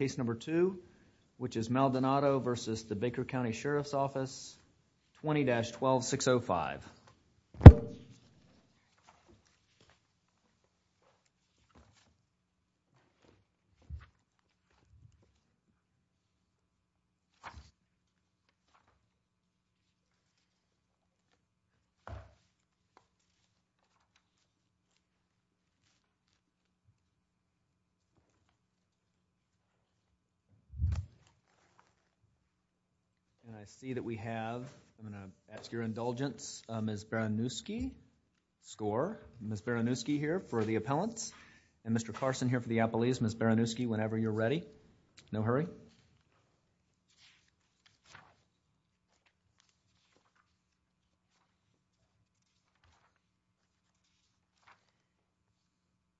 Case number 2, which is Maldonado v. Baker County Sheriff's Office, 20-12605. And I see that we have, I'm going to ask your indulgence, Ms. Baranuski, score, Ms. Baranuski here for the appellants, and Mr. Carson here for the appellees. Ms. Baranuski, whenever you're ready. No hurry.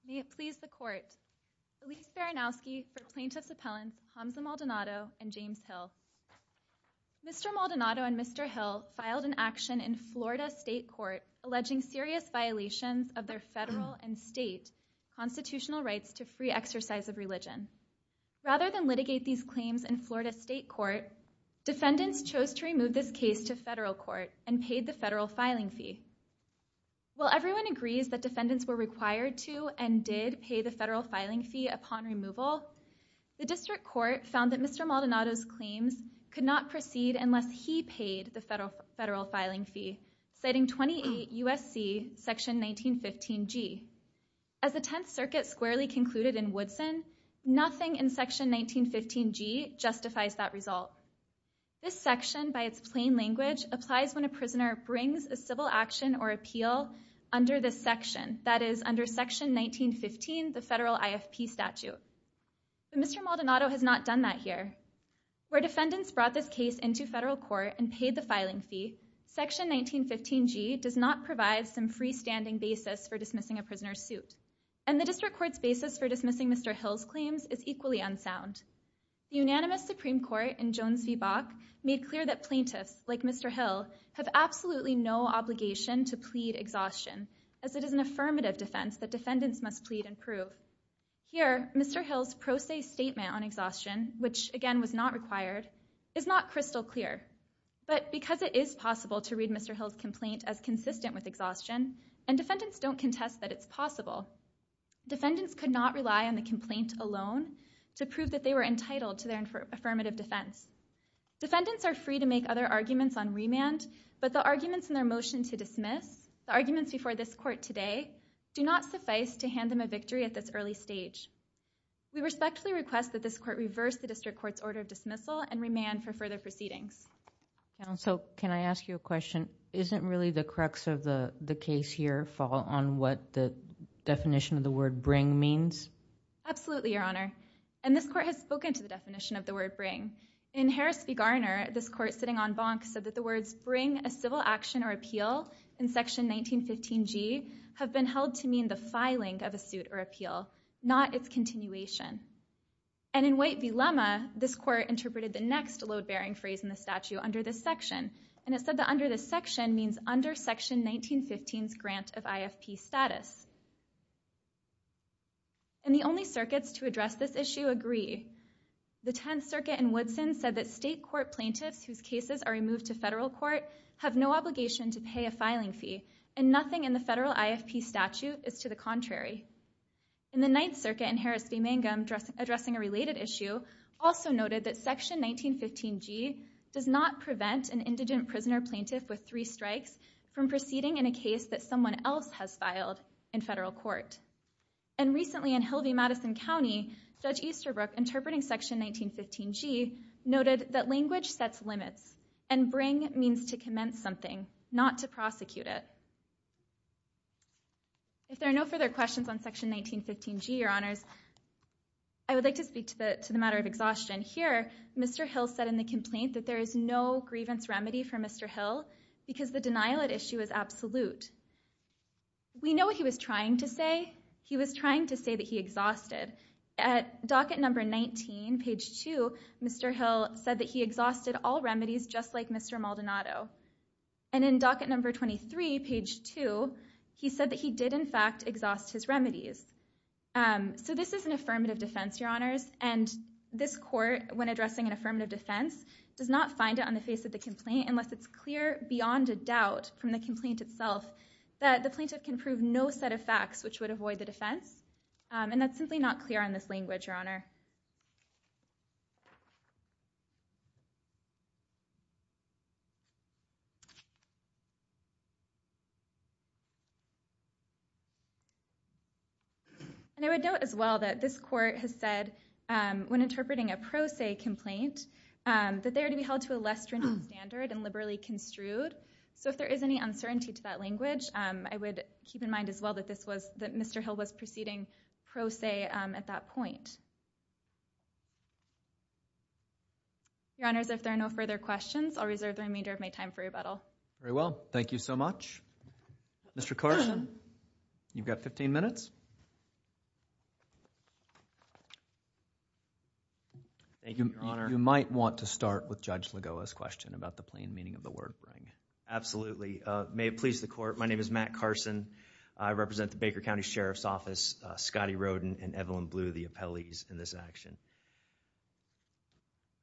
May it please the Court, Elyse Baranuski for Plaintiffs' Appellants Hamza Maldonado and James Hill. Mr. Maldonado and Mr. Hill filed an action in Florida State Court alleging serious violations of their federal and state constitutional rights to free exercise of claims in Florida State Court. Defendants chose to remove this case to federal court and paid the federal filing fee. While everyone agrees that defendants were required to and did pay the federal filing fee upon removal, the district court found that Mr. Maldonado's claims could not proceed unless he paid the federal filing fee, citing 28 U.S.C. section 1915G. As the Tenth Circuit squarely concluded in Woodson, nothing in section 1915G justifies that result. This section, by its plain language, applies when a prisoner brings a civil action or appeal under this section, that is, under section 1915, the federal IFP statute. Mr. Maldonado has not done that here. Where defendants brought this case into federal court and paid the filing fee, section 1915G does not provide some freestanding basis for dismissing a prisoner's suit, and the district court's basis for dismissing Mr. Hill's claims is equally unsound. Unanimous Supreme Court in Jones v. Bach made clear that plaintiffs, like Mr. Hill, have absolutely no obligation to plead exhaustion, as it is an affirmative defense that defendants must plead and prove. Here, Mr. Hill's pro se statement on exhaustion, which again was not required, is not crystal clear, but because it is possible to read Mr. Hill's complaint as consistent with exhaustion, and defendants don't contest that it's possible, defendants could not rely on the complaint alone to prove that they were entitled to their affirmative defense. Defendants are free to make other arguments on remand, but the arguments in their motion to dismiss, the arguments before this court today, do not suffice to hand them a victory at this early stage. We respectfully request that this court reverse the district court's order of dismissal and remand for further proceedings. So can I ask you a question? Isn't really the crux of the case here fall on what the definition of the word bring means? Absolutely, Your Honor. And this court has spoken to the definition of the word bring. In Harris v. Garner, this court sitting on Bonk said that the words bring a civil action or appeal in section 1915G have been held to mean the filing of a suit or appeal, not its continuation. And in White v. Lemma, this court interpreted the next load-bearing phrase in the statute under this section, and it said that under this section means under section 1915's grant of IFP status. And the only circuits to address this issue agree. The 10th Circuit in Woodson said that state court plaintiffs whose cases are removed to federal court have no obligation to pay a filing fee, and nothing in the federal IFP statute is to the contrary. In the 9th Circuit in Harris v. Mangum, addressing a related issue, also noted that section 1915G does not prevent an indigent prisoner-plaintiff with three strikes from proceeding in a case that someone else has filed in federal court. And recently in Hill v. Madison County, Judge Easterbrook, interpreting section 1915G, noted that language sets limits, and bring means to commence something, not to prosecute it. If there are no further questions on section 1915G, Your Honors, I would like to speak to the matter of exhaustion. Here, Mr. Hill said in the complaint that there is no grievance remedy for Mr. Hill, because the denial at issue is absolute. We know what he was trying to say. He was trying to say that he exhausted. At docket number 19, page 2, Mr. Hill said that he exhausted all remedies just like Mr. Maldonado. And in docket number 23, page 2, he said that he did in fact exhaust his remedies. So this is an affirmative defense, Your Honors, and this court, when addressing an affirmative defense, does not find it on the face of the complaint unless it's clear beyond a doubt from the complaint itself that the plaintiff can prove no set of facts which would avoid the defense. And that's simply not clear on this language, Your Honor. And I would note as well that this court has said, when interpreting a pro se complaint, that they are to be held to a less stringent standard and liberally construed. So if there is any uncertainty to that language, I would keep in mind as well that Mr. Hill was proceeding pro se at that point. Your Honors, if there are no further questions, I'll reserve the remainder of my time for rebuttal. Very well. Thank you so much. Mr. Carson, you've got 15 minutes. You might want to start with Judge Lagoa's question about the plain meaning of the word Absolutely. May it please the court, my name is Matt Carson. I represent the Baker County Sheriff's Office, Scotty Roden and Evelyn Bleu, the appellees in this action.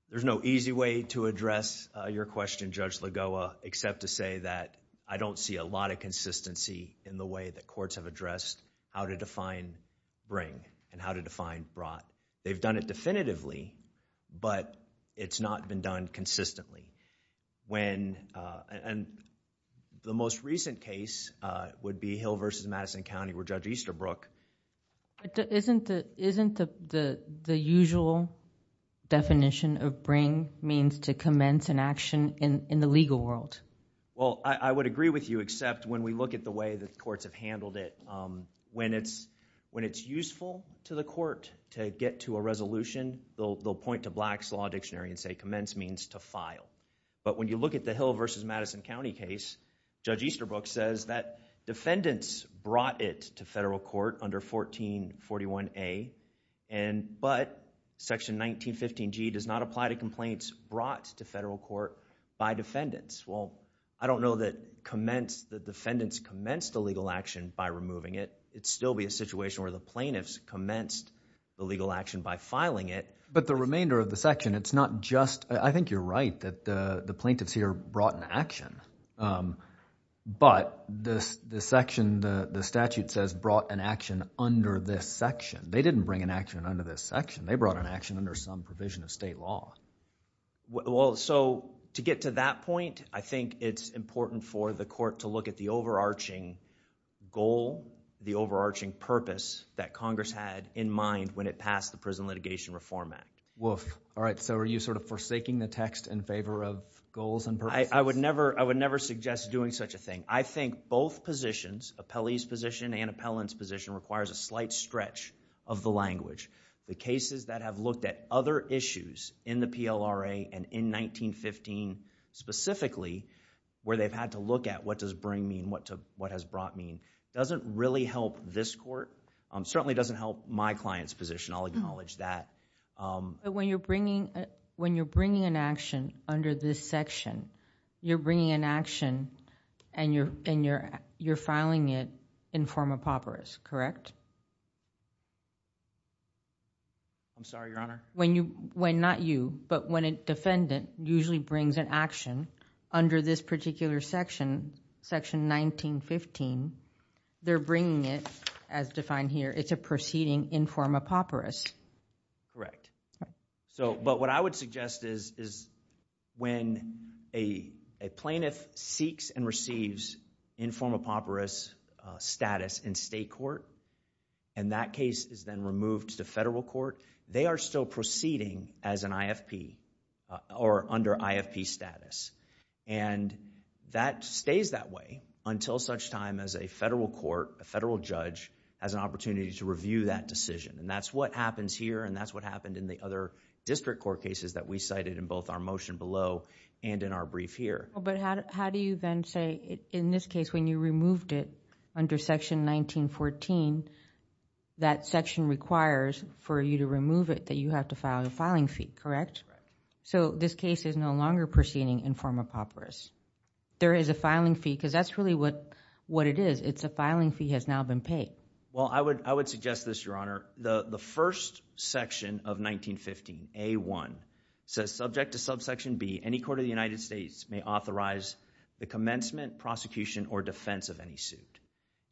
There's no easy way to address your question, Judge Lagoa, except to say that I don't see a lot of consistency in the way that courts have addressed how to define bring and how to define brought. They've done it definitively, but it's not been done consistently. The most recent case would be Hill v. Madison County where Judge Easterbrook... Isn't the usual definition of bring means to commence an action in the legal world? I would agree with you, except when we look at the way that courts have handled it, when it's useful to the court to get to a resolution, they'll point to Black's Law Dictionary and say commence means to file. When you look at the Hill v. Madison County case, Judge Easterbrook says that defendants brought it to federal court under 1441A, but Section 1915G does not apply to complaints brought to federal court by defendants. I don't know that defendants commenced a legal action by removing it. It'd still be a situation where the plaintiffs commenced the legal action by filing it. The remainder of the section, it's not just... I think you're right that the plaintiffs here brought an action, but the statute says brought an action under this section. They didn't bring an action under this section. They brought an action under some provision of state law. To get to that point, I think it's important for the court to look at the overarching goal, the overarching purpose that Congress had in mind when it passed the Prison Litigation Reform Act. Are you forsaking the text in favor of goals and purposes? I would never suggest doing such a thing. I think both positions, appellee's position and appellant's position, requires a slight stretch of the language. The cases that have looked at other issues in the PLRA and in 1915 specifically, where they've had to look at what does bring mean, what has brought mean, doesn't really help this court. It certainly doesn't help my client's position. I'll acknowledge that. When you're bringing an action under this section, you're bringing an action and you're filing it in form of papyrus, correct? I'm sorry, Your Honor? When not you, but when a defendant usually brings an action under this particular section, section 1915, they're bringing it as defined here. It's a proceeding in form of papyrus. Correct. What I would suggest is when a plaintiff seeks and receives in form of papyrus status in state court and that case is then removed to federal court, they are still proceeding as an IFP or under IFP status. That stays that way until such time as a federal court, a federal judge, has an opportunity to review that decision. That's what happens here and that's what happened in the other district court cases that we cited in both our motion below and in our brief here. How do you then say in this case when you removed it under section 1914, that section requires for you to remove it that you have to file a filing fee, correct? This case is no longer proceeding in form of papyrus. There is a filing fee because that's really what it is. It's a filing fee has now been paid. I would suggest this, Your Honor. The first section of 1915, A1, says subject to subsection B, any court of the United States may authorize the commencement, prosecution, or defense of any suit.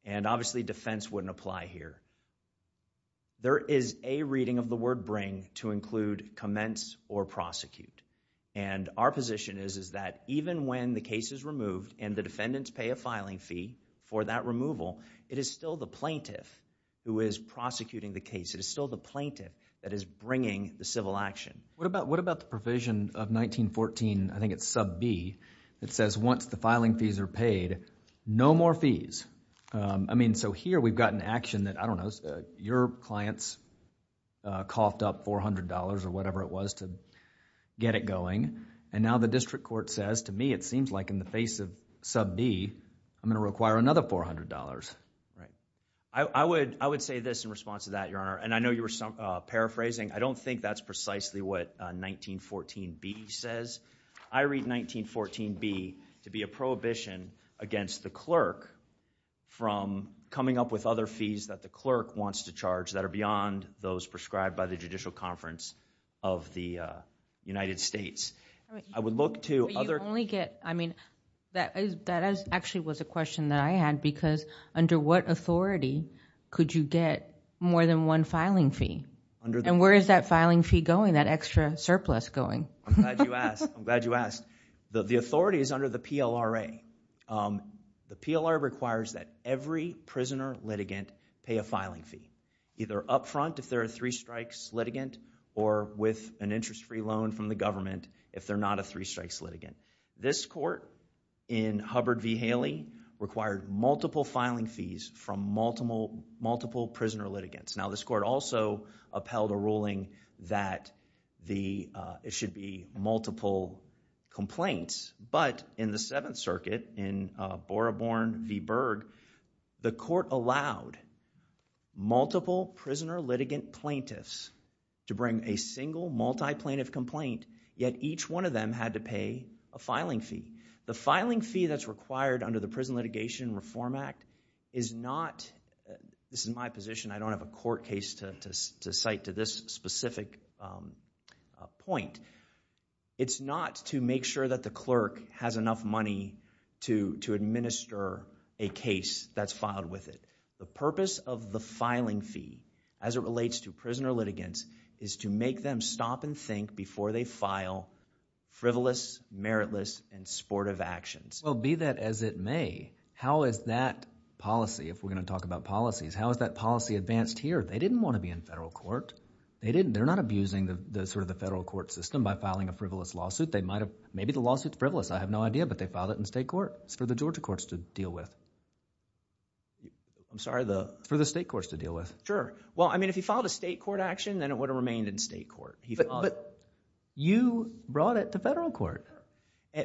Obviously, defense wouldn't apply here. There is a reading of the word bring to include commence or prosecute. Our position is that even when the case is removed and the defendants pay a filing fee for that removal, it is still the plaintiff who is prosecuting the case. It is still the plaintiff that is bringing the civil action. What about the provision of 1914, I think it's sub B, that says once the filing fees are paid, no more fees. Here we've got an action that, I don't know, your clients coughed up $400 or whatever it was to get it going. Now the district court says to me it seems like in the face of sub B, I'm going to require another $400. I would say this in response to that, Your Honor. I know you were paraphrasing. I don't think that's precisely what 1914B says. I read 1914B to be a prohibition against the clerk from coming up with other fees that the clerk wants to charge that are beyond those prescribed by the Judicial Conference of the United States. I would look to other... You only get... That actually was a question that I had because under what authority could you get more than one filing fee? Where is that filing fee going, that extra surplus going? I'm glad you asked. The authority is under the PLRA. The PLRA requires that every prisoner litigant pay a filing fee, either up front if they're a three strikes litigant or with an interest free loan from the government if they're not a three strikes litigant. This court in Hubbard v. Haley required multiple filing fees from multiple prisoner litigants. Now, this court also upheld a ruling that it should be multiple complaints, but in the Seventh Circuit in Boraborne v. Berg, the court allowed multiple prisoner litigant plaintiffs to bring a single multi-plaintiff complaint, yet each one of them had to pay a filing fee. The filing fee that's required under the Prison Litigation Reform Act is not... This is my position. I don't have a court case to cite to this specific point. It's not to make sure that the clerk has enough money to administer a case that's filed with it. The purpose of the filing fee, as it relates to prisoner litigants, is to make them stop and think before they file frivolous, meritless, and sportive actions. Well, be that as it may, how is that policy, if we're going to talk about policies, how is that policy advanced here? They didn't want to be in federal court. They're not abusing the federal court system by filing a frivolous lawsuit. Maybe the lawsuit's frivolous. I have no idea, but they filed it in state court. It's for the Georgia courts to deal with. I'm sorry, the... Sure. Well, I mean, if he filed a state court action, then it would have remained in state court. But you brought it to federal court.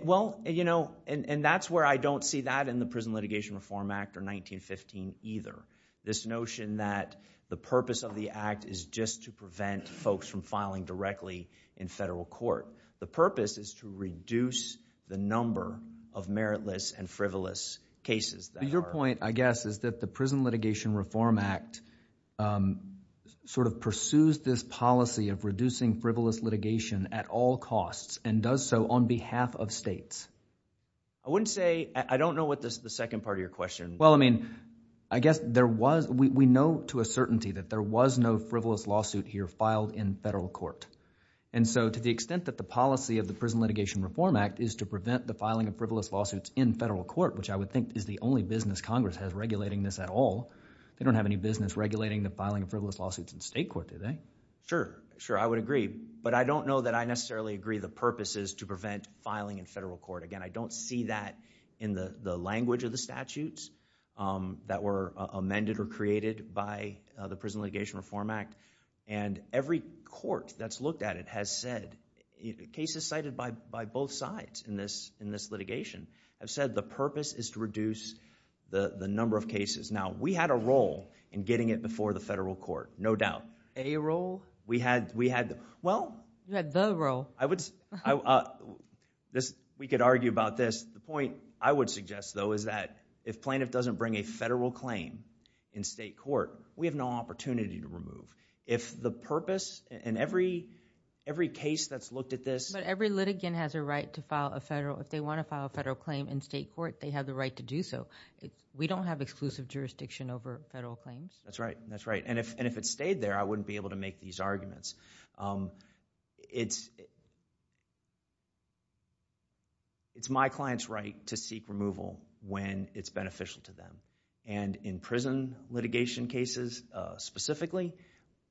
Well, and that's where I don't see that in the Prison Litigation Reform Act or 1915 either, this notion that the purpose of the act is just to prevent folks from filing directly in federal court. The purpose is to reduce the number of meritless and frivolous cases that are... The Prison Litigation Reform Act sort of pursues this policy of reducing frivolous litigation at all costs and does so on behalf of states. I wouldn't say... I don't know what the second part of your question... Well, I mean, I guess there was... We know to a certainty that there was no frivolous lawsuit here filed in federal court. And so, to the extent that the policy of the Prison Litigation Reform Act is to prevent the filing of frivolous lawsuits in federal court, which I would think is the only business Congress has regulating this at all, they don't have any business regulating the filing of frivolous lawsuits in state court, do they? Sure, I would agree. But I don't know that I necessarily agree the purpose is to prevent filing in federal court. Again, I don't see that in the language of the statutes that were amended or created by the Prison Litigation Reform Act. And every court that's looked at it has said... cases cited by both sides in this litigation have said the purpose is to reduce the number of cases. Now, we had a role in getting it before the federal court, no doubt. A role? We had... well... You had the role. We could argue about this. The point I would suggest, though, is that if plaintiff doesn't bring a federal claim in state court, we have no opportunity to remove. If the purpose in every case that's looked at this... But every litigant has a right to file a federal... if they want to file a federal claim in state court, they have the right to do so. We don't have exclusive jurisdiction over federal claims. That's right. And if it stayed there, I wouldn't be able to make these arguments. It's my client's right to seek removal when it's beneficial to them. And in prison litigation cases, specifically,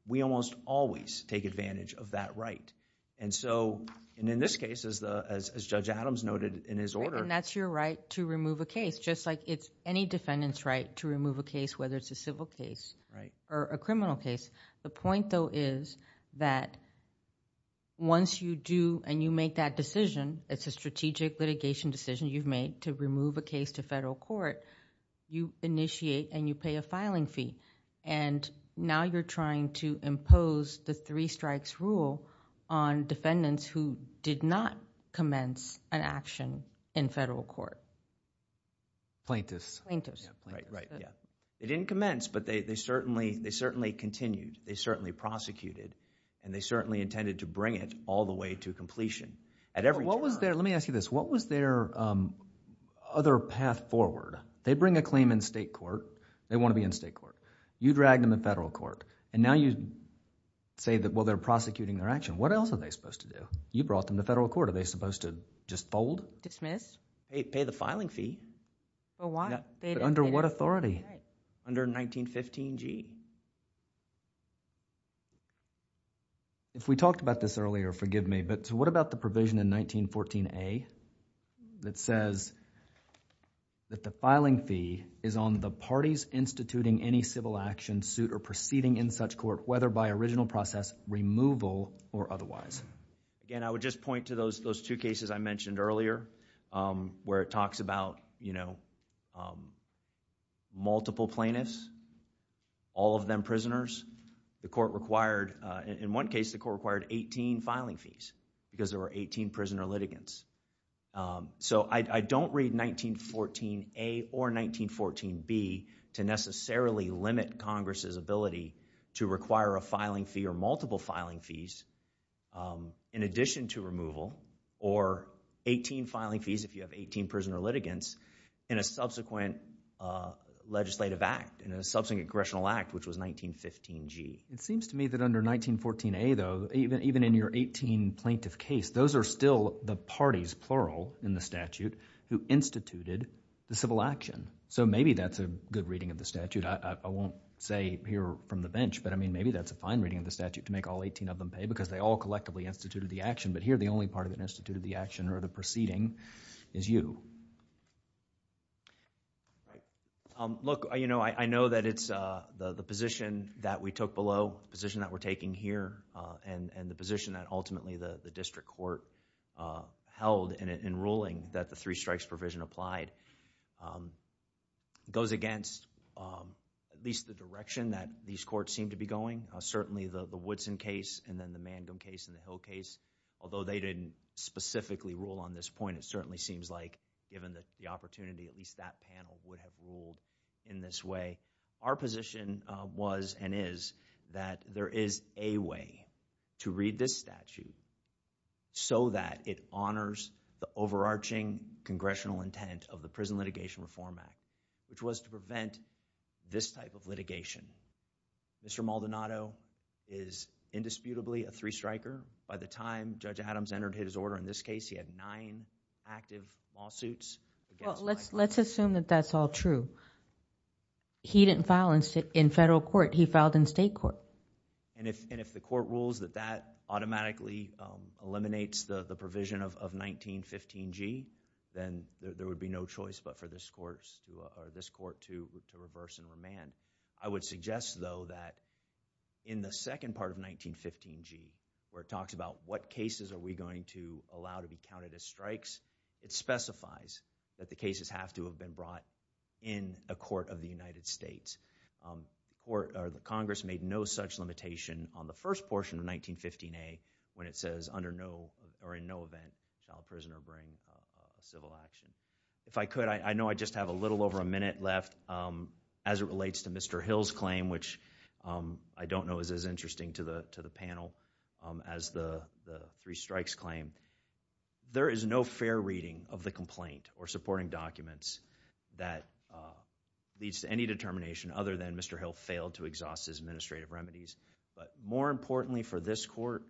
we almost always take advantage of that right. And so, in this case, as Judge Adams noted in his order... And that's your right to remove a case, just like it's any defendant's right to remove a case, whether it's a civil case or a criminal case. The point, though, is that once you do and you make that decision, it's a strategic litigation decision you've made to remove a case to federal court, you initiate and you pay a filing fee. Now, you're trying to remove a case in federal court. Plaintiffs. Right, right, yeah. They didn't commence, but they certainly continued. They certainly prosecuted and they certainly intended to bring it all the way to completion. At every turn... Let me ask you this. What was their other path forward? They bring a claim in state court. They want to be in state court. You drag them to federal court. And now you say that, well, they're prosecuting their action. What else are they supposed to do? You brought them to federal court. Are they supposed to just fold? Dismiss? Pay the filing fee. But why? Under what authority? Under 1915G. If we talked about this earlier, forgive me, but what about the provision in 1914A that says that the filing fee is on the parties instituting any civil action, suit, or proceeding in such court, whether by original process, removal, or otherwise? Again, I would just point to those two cases I mentioned earlier where it talks about multiple plaintiffs, all of them prisoners. The court required... in one case, the court required 18 filing fees because there were 18 prisoner litigants. So I don't read 1914A or 1914B to necessarily limit Congress's ability to require a filing fee or multiple filing fees in addition to removal or 18 filing fees if you have 18 prisoner litigants in a subsequent legislative act, in a subsequent congressional act, which was 1915G. It seems to me that under 1914A, though, even in your 18 plaintiff case, those are still the parties, plural in the statute, who instituted the civil action. Maybe that's a good reading of the statute. I won't say here from the bench, but maybe that's a fine reading of the statute to make all 18 of them pay because they all collectively instituted the action, but here, the only part of it that instituted the action or the proceeding is you. Look, I know that it's the position that we took below, the position that we're taking here and the position that ultimately the district court held in ruling that the three strikes provision applied goes against at least the direction that these courts seem to be going. Certainly, the Woodson case and then the Mandum case and the Hill case, although they didn't specifically rule on this point, it certainly seems like, given the opportunity, at least that panel would have ruled in this way. Our position was and is that there is a way to read this statute so that it honors the overarching congressional intent of the Prison Litigation Reform Act, which was to prevent this type of litigation. Mr. Maldonado is indisputably a three-striker. By the time Judge Adams entered his order in this case, he had nine active lawsuits against Michael Adams. Let's assume that that's all true. He didn't file in federal court. He filed in state court. If the court rules that that automatically eliminates the provision of 1915G, then there would be no choice but for this court to reverse and remand. I would suggest, though, that in the second part of 1915G, where it talks about what cases are we going to allow to be counted as strikes, it specifies that the cases have to have been brought in a court of the United States. Congress made no such limitation on the first portion of 1915A when it says under no or in no event shall a prisoner bring civil action. If I could, I know I just have a little over a minute left as it relates to Mr. Hill's claim, which I don't know is as interesting to the panel as the three strikes claim. There is no fair reading of the complaint or supporting documents that leads to any determination other than Mr. Hill failed to exhaust his administrative remedies. More importantly for this court,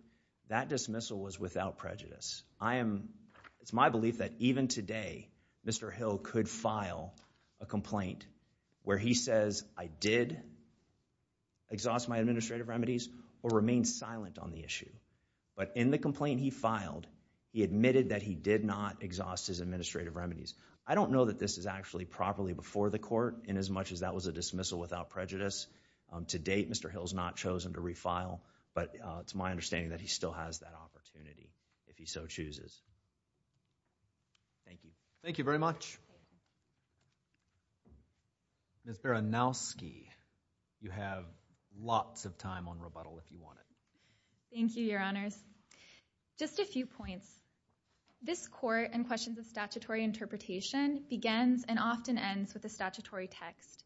that dismissal was without prejudice. It's my belief that even today, Mr. Hill could refile a complaint where he says, I did exhaust my administrative remedies or remain silent on the issue. In the complaint he filed, he admitted that he did not exhaust his administrative remedies. I don't know that this is actually properly before the court in as much as that was a dismissal without prejudice. To date, Mr. Hill has not chosen to refile, but it's my understanding that he still has that opportunity if he so chooses. Thank you. Thank you very much. Ms. Baranowski, you have lots of time on rebuttal if you want it. Thank you, Your Honors. Just a few points. This court and questions of statutory interpretation begins and often ends with a statutory text.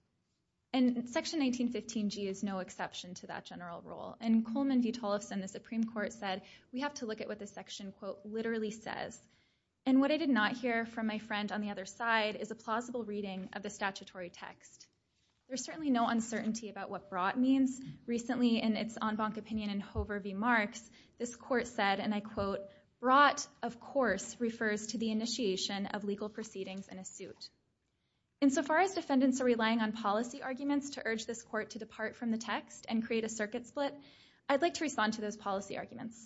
Section 1915G is no exception to that general rule. Coleman V. Tollefson, the Supreme Court, said we have to look at what the section quote from my friend on the other side is a plausible reading of the statutory text. There's certainly no uncertainty about what brought means. Recently in its en banc opinion in Hover v. Marks, this court said, and I quote, brought, of course, refers to the initiation of legal proceedings in a suit. Insofar as defendants are relying on policy arguments to urge this court to depart from the text and create a circuit split, I'd like to respond to those arguments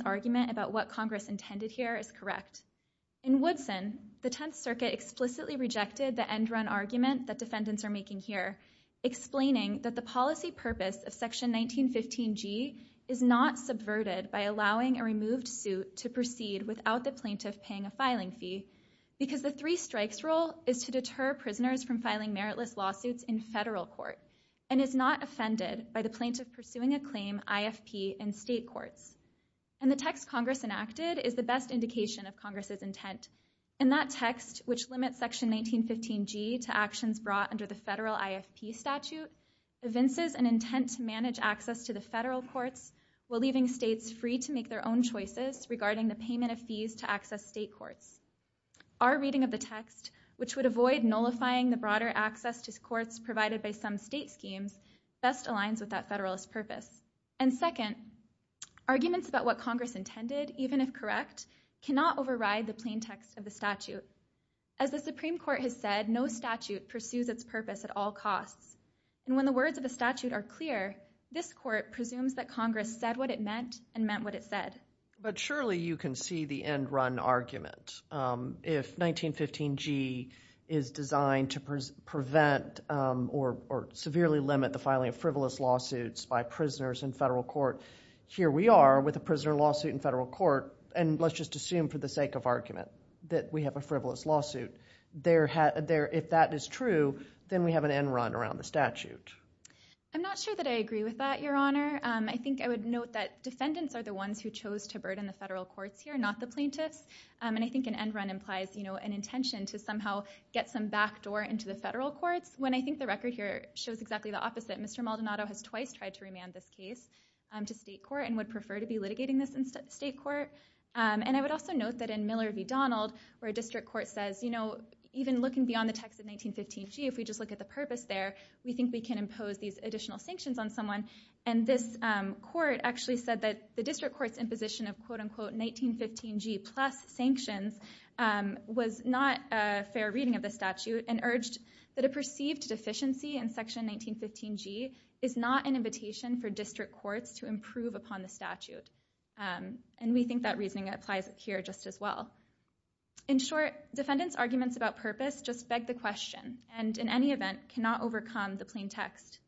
about what Congress intended here is correct. In Woodson, the Tenth Circuit explicitly rejected the end run argument that defendants are making here, explaining that the policy purpose of section 1915G is not subverted by allowing a removed suit to proceed without the plaintiff paying a filing fee because the three strikes rule is to deter prisoners from filing meritless lawsuits in federal court and is not offended by the plaintiff pursuing a claim IFP in state courts. And the text Congress enacted is the best indication of Congress's intent. In that text, which limits section 1915G to actions brought under the federal IFP statute, evinces an intent to manage access to the federal courts while leaving states free to make their own choices regarding the payment of fees to access state courts. Our reading of the text, which would avoid nullifying the broader access to courts provided by some state schemes, best aligns with that federalist purpose. And second, arguments about what Congress intended, even if correct, cannot override the plain text of the statute. As the Supreme Court has said, no statute pursues its purpose at all costs. And when the words of the statute are clear, this court presumes that Congress said what it meant and meant what it said. But surely you can see the end-run argument. If 1915G is designed to prevent or severely limit the filing of frivolous lawsuits by prisoners in federal court, here we are with a prisoner lawsuit in federal court, and let's just assume for the sake of argument that we have a frivolous lawsuit. If that is true, then we have an end-run around the statute. I'm not sure that I agree with that, Your Honor. I think I would note that defendants are the ones who chose to burden the federal courts here, not the plaintiffs. And I think an end-run implies an intention to somehow get some backdoor into the federal courts, when I think the record here shows exactly the opposite. Mr. Maldonado has twice tried to remand this case to state court and would prefer to be litigating this in state court. And I would also note that in Miller v. Donald, where a district court says, you know, even looking beyond the text of 1915G, if we just look at the purpose there, we think we can of quote-unquote 1915G plus sanctions was not a fair reading of the statute and urged that a perceived deficiency in section 1915G is not an invitation for district courts to improve upon the statute. And we think that reasoning applies here just as well. In short, defendants' arguments about purpose just beg the question and in any event cannot overcome the plain text.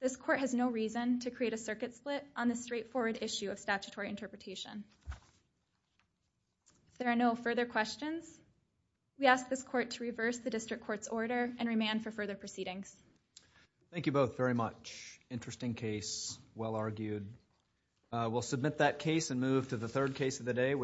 This court has no reason to create a circuit split on this straightforward issue of statutory interpretation. If there are no further questions, we ask this court to reverse the district court's order and remand for further proceedings. Thank you both very much. Interesting case, well argued. We'll submit that case and move to the third case of the day, which